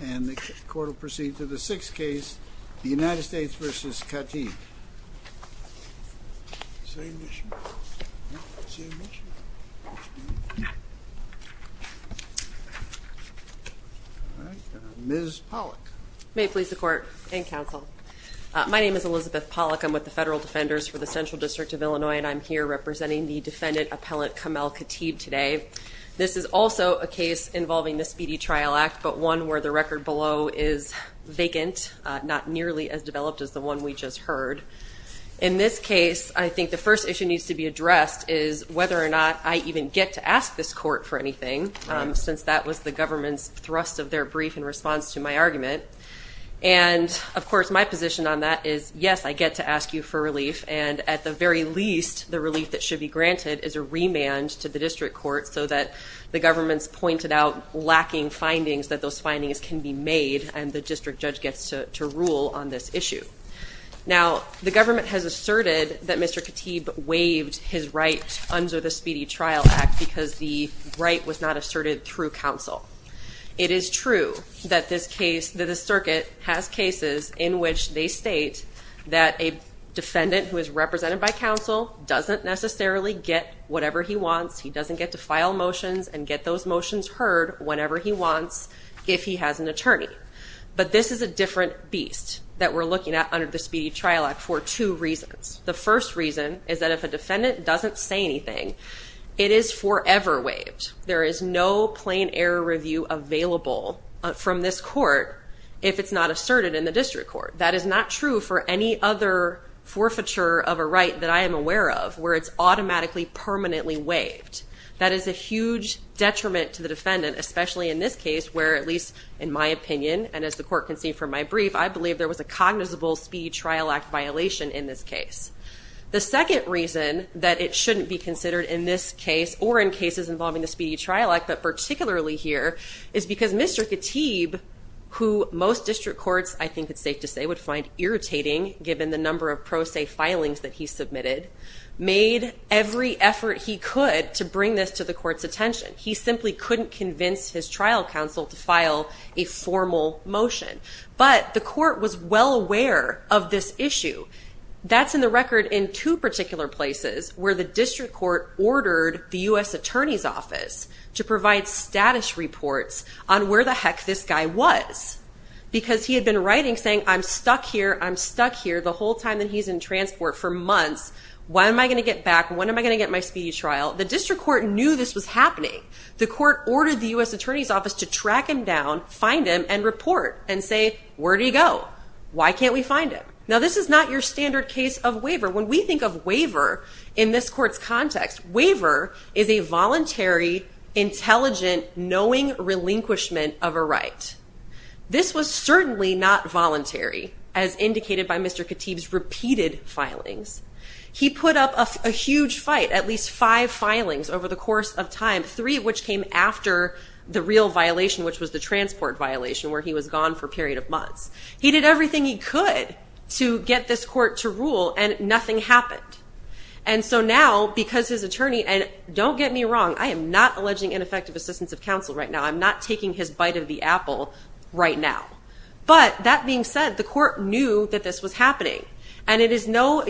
And the court will proceed to the sixth case, the United States v. Khatib. Ms. Pollack. May it please the Court and Counsel. My name is Elizabeth Pollack. I'm with the Federal Defenders for the Central District of Illinois, and I'm here representing the defendant, Appellant Kamel Khatib, today. This is also a case involving the Speedy Trial Act, but one where the record below is vacant, not nearly as developed as the one we just heard. In this case, I think the first issue needs to be addressed is whether or not I even get to ask this court for anything, since that was the government's thrust of their brief in response to my argument. And, of course, my position on that is, yes, I get to ask you for relief, and at the very least, the relief that should be granted is a remand to the district court so that the government's pointed out lacking findings, that those findings can be made, and the district judge gets to rule on this issue. Now, the government has asserted that Mr. Khatib waived his right under the Speedy Trial Act because the right was not asserted through counsel. It is true that the circuit has cases in which they state that a defendant who is represented by counsel doesn't necessarily get whatever he wants. He doesn't get to file motions and get those motions heard whenever he wants if he has an attorney. But this is a different beast that we're looking at under the Speedy Trial Act for two reasons. The first reason is that if a defendant doesn't say anything, it is forever waived. There is no plain error review available from this court if it's not asserted in the district court. That is not true for any other forfeiture of a right that I am aware of where it's automatically permanently waived. That is a huge detriment to the defendant, especially in this case where, at least in my opinion, and as the court can see from my brief, I believe there was a cognizable Speedy Trial Act violation in this case. The second reason that it shouldn't be considered in this case or in cases involving the Speedy Trial Act, but particularly here, is because Mr. Katib, who most district courts, I think it's safe to say, would find irritating given the number of pro se filings that he submitted, made every effort he could to bring this to the court's attention. He simply couldn't convince his trial counsel to file a formal motion. But the court was well aware of this issue. That's in the record in two particular places where the district court ordered the U.S. Attorney's Office to provide status reports on where the heck this guy was. Because he had been writing saying, I'm stuck here, I'm stuck here, the whole time that he's in transport for months. When am I going to get back? When am I going to get my speedy trial? The district court knew this was happening. The court ordered the U.S. Attorney's Office to track him down, find him, and report and say, where did he go? Why can't we find him? Now, this is not your standard case of waiver. When we think of waiver in this court's context, waiver is a voluntary, intelligent, knowing relinquishment of a right. This was certainly not voluntary, as indicated by Mr. Katib's repeated filings. He put up a huge fight, at least five filings over the course of time, three of which came after the real violation, which was the transport violation where he was gone for a period of months. He did everything he could to get this court to rule, and nothing happened. And so now, because his attorney, and don't get me wrong, I am not alleging ineffective assistance of counsel right now. I'm not taking his bite of the apple right now. But that being said, the court knew that this was happening. And it is no,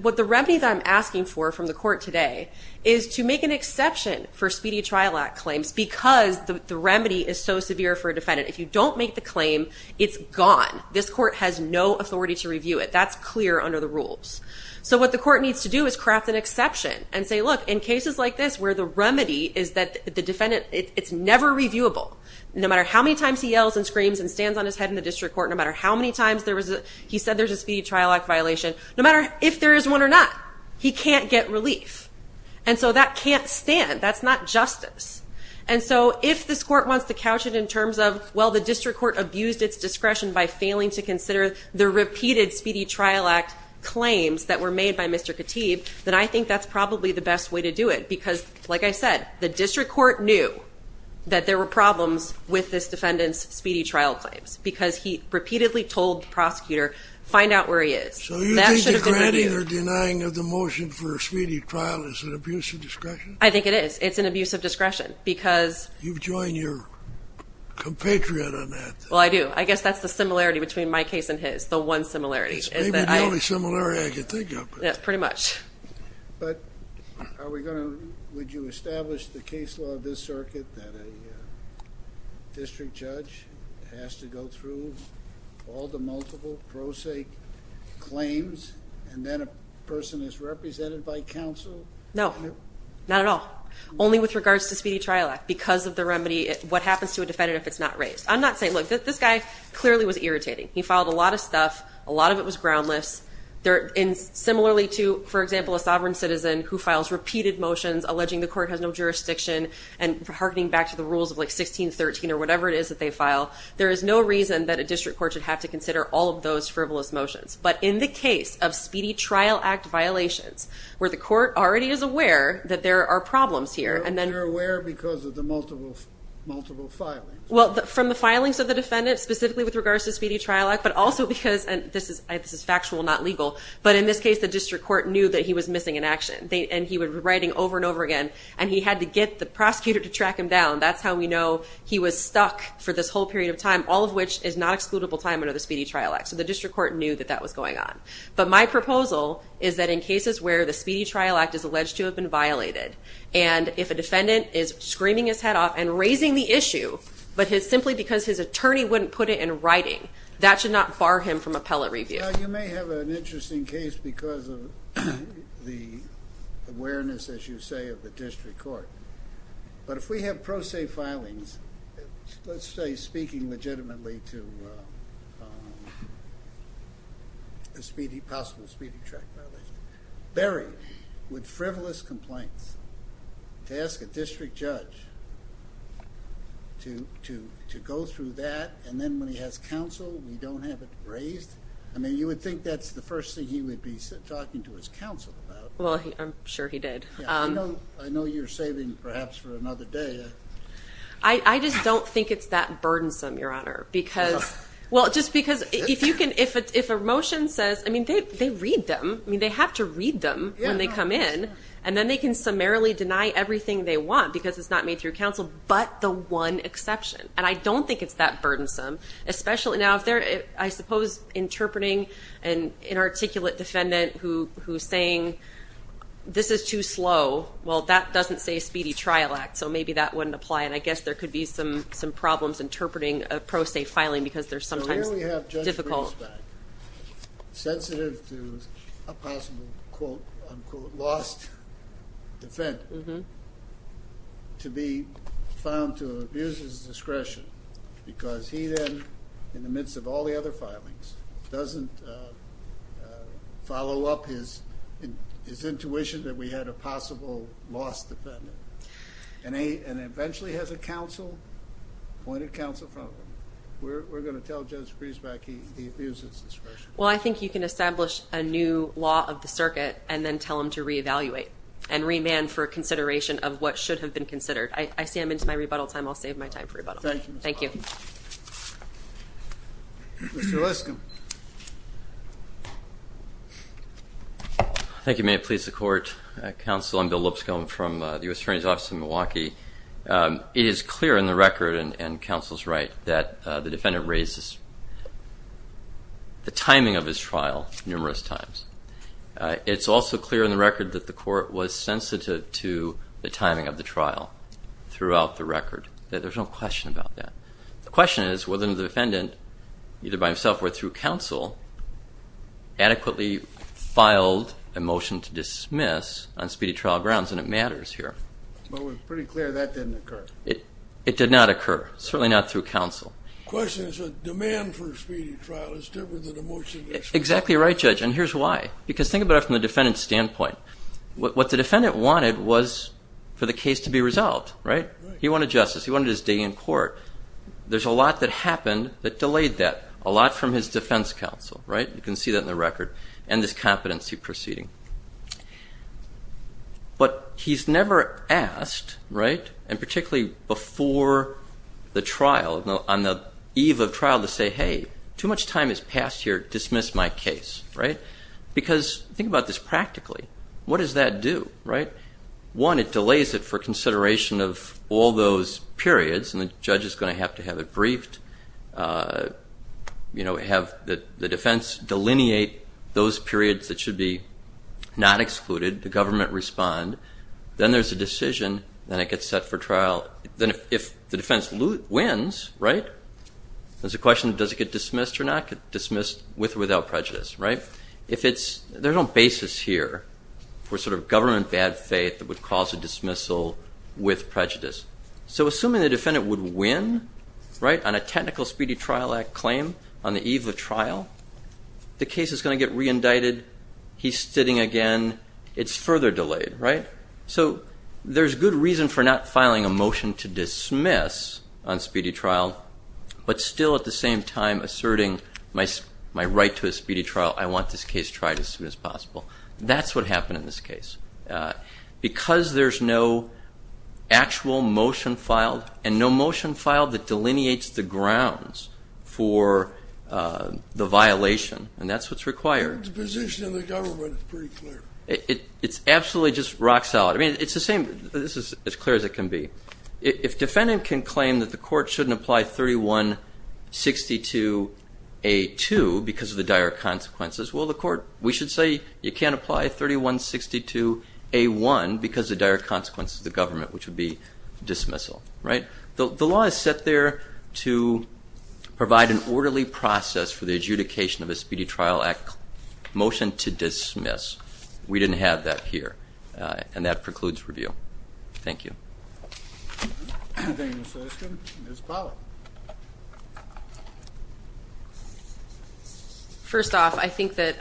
what the remedy that I'm asking for from the court today is to make an exception for Speedy Trial Act claims because the remedy is so severe for a defendant. If you don't make the claim, it's gone. This court has no authority to review it. That's clear under the rules. So what the court needs to do is craft an exception and say, look, in cases like this where the remedy is that the defendant, it's never reviewable. No matter how many times he yells and screams and stands on his head in the district court, no matter how many times he said there's a Speedy Trial Act violation, no matter if there is one or not, he can't get relief. And so that can't stand. That's not justice. And so if this court wants to couch it in terms of, well, the district court abused its discretion by failing to consider the repeated Speedy Trial Act claims that were made by Mr. Khatib, then I think that's probably the best way to do it because, like I said, the district court knew that there were problems with this defendant's Speedy Trial claims because he repeatedly told the prosecutor, find out where he is. So you think the granting or denying of the motion for a Speedy Trial is an abuse of discretion? I think it is. It's an abuse of discretion because... You've joined your compatriot on that. Well, I do. I guess that's the similarity between my case and his, the one similarity. It's maybe the only similarity I can think of. Yes, pretty much. But would you establish the case law of this circuit that a district judge has to go through all the multiple pro se claims and then a person is represented by counsel? No. Not at all. Only with regards to Speedy Trial Act because of the remedy, what happens to a defendant if it's not raised. I'm not saying, look, this guy clearly was irritating. He filed a lot of stuff. A lot of it was groundless. Similarly to, for example, a sovereign citizen who files repeated motions alleging the court has no jurisdiction and harkening back to the rules of like 1613 or whatever it is that they file, there is no reason that a district court should have to consider all of those frivolous motions. But in the case of Speedy Trial Act violations, where the court already is aware that there are problems here. They're aware because of the multiple filings. Well, from the filings of the defendant, specifically with regards to Speedy Trial Act, but also because, and this is factual, not legal, but in this case the district court knew that he was missing in action. And he would be writing over and over again. And he had to get the prosecutor to track him down. That's how we know he was stuck for this whole period of time, all of which is not excludable time under the Speedy Trial Act. So the district court knew that that was going on. But my proposal is that in cases where the Speedy Trial Act is alleged to have been violated, and if a defendant is screaming his head off and raising the issue, but simply because his attorney wouldn't put it in writing, that should not bar him from appellate review. You may have an interesting case because of the awareness, as you say, of the district court. But if we have pro se filings, let's say speaking legitimately to a possible speeding track violation, buried with frivolous complaints, to ask a district judge to go through that, and then when he has counsel, we don't have it raised? I mean, you would think that's the first thing he would be talking to his counsel about. Well, I'm sure he did. I know you're saving perhaps for another day. I just don't think it's that burdensome, Your Honor. Well, just because if a motion says, I mean, they read them. I mean, they have to read them when they come in, and then they can summarily deny everything they want because it's not made through counsel, but the one exception. And I don't think it's that burdensome, especially now if they're, I suppose, interpreting an inarticulate defendant who's saying this is too slow. Well, that doesn't say a speedy trial act, so maybe that wouldn't apply, and I guess there could be some problems interpreting a pro se filing because they're sometimes difficult. So here we have Judge Bridges back, sensitive to a possible, quote, unquote, lost defendant to be found to have abused his discretion because he then, in the midst of all the other filings, doesn't follow up his intuition that we had a possible lost defendant and eventually has a counsel, appointed counsel from him. We're going to tell Judge Bridges back he abused his discretion. Well, I think you can establish a new law of the circuit and then tell him to reevaluate and remand for consideration of what should have been considered. I see I'm into my rebuttal time. I'll save my time for rebuttal. Thank you. Mr. Lipscomb. Thank you. May it please the Court. Counsel, I'm Bill Lipscomb from the U.S. Attorney's Office in Milwaukee. It is clear in the record, and counsel's right, that the defendant raised the timing of his trial numerous times. It's also clear in the record that the court was sensitive to the timing of the trial throughout the record. There's no question about that. The question is whether the defendant, either by himself or through counsel, adequately filed a motion to dismiss on speedy trial grounds, and it matters here. But we're pretty clear that didn't occur. It did not occur, certainly not through counsel. The question is the demand for a speedy trial is different than a motion to dismiss. Exactly right, Judge, and here's why. Because think about it from the defendant's standpoint. What the defendant wanted was for the case to be resolved, right? He wanted justice. He wanted his day in court. There's a lot that happened that delayed that, a lot from his defense counsel, right? You can see that in the record and this competency proceeding. But he's never asked, right, and particularly before the trial, on the eve of trial, to say, hey, too much time has passed here. Dismiss my case, right? Because think about this practically. What does that do, right? One, it delays it for consideration of all those periods, and the judge is going to have to have it briefed, you know, have the defense delineate those periods that should be not excluded. The government respond. Then there's a decision, then it gets set for trial. Then if the defense wins, right, there's a question of does it get dismissed or not, get dismissed with or without prejudice, right? There's no basis here for sort of government bad faith that would cause a dismissal with prejudice. So assuming the defendant would win, right, on a technical speedy trial claim on the eve of trial, the case is going to get reindicted. He's sitting again. It's further delayed, right? So there's good reason for not filing a motion to dismiss on speedy trial, but still at the same time asserting my right to a speedy trial. I want this case tried as soon as possible. That's what happened in this case. Because there's no actual motion filed and no motion filed that delineates the grounds for the violation, and that's what's required. The position of the government is pretty clear. It's absolutely just rock solid. I mean, it's the same. This is as clear as it can be. If defendant can claim that the court shouldn't apply 3162A2 because of the dire consequences, well, the court, we should say you can't apply 3162A1 because of the dire consequences of the government, which would be dismissal, right? The law is set there to provide an orderly process for the adjudication of a speedy trial motion to dismiss. We didn't have that here, and that precludes review. Thank you. Thank you, Mr. Eskin. Ms. Powell. First off, I think that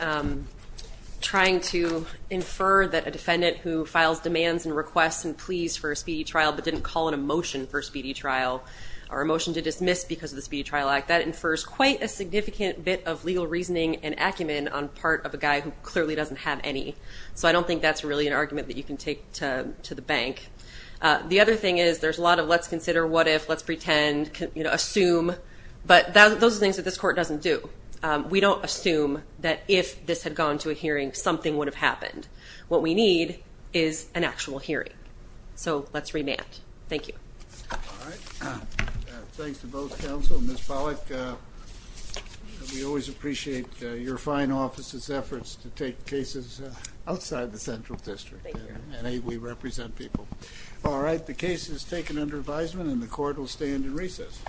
trying to infer that a defendant who files demands and requests and pleas for a speedy trial but didn't call in a motion for a speedy trial or a motion to dismiss because of the speedy trial act, that infers quite a significant bit of legal reasoning and acumen on part of a guy who clearly doesn't have any. So I don't think that's really an argument that you can take to the bank. The other thing is there's a lot of let's consider, what if, let's pretend, assume, but those are things that this court doesn't do. We don't assume that if this had gone to a hearing, something would have happened. What we need is an actual hearing. So let's remand. Thank you. All right. Thanks to both counsel. Ms. Pollack, we always appreciate your fine office's efforts to take cases outside the central district. Thank you. And we represent people. All right. The case is taken under advisement, and the court will stand in recess.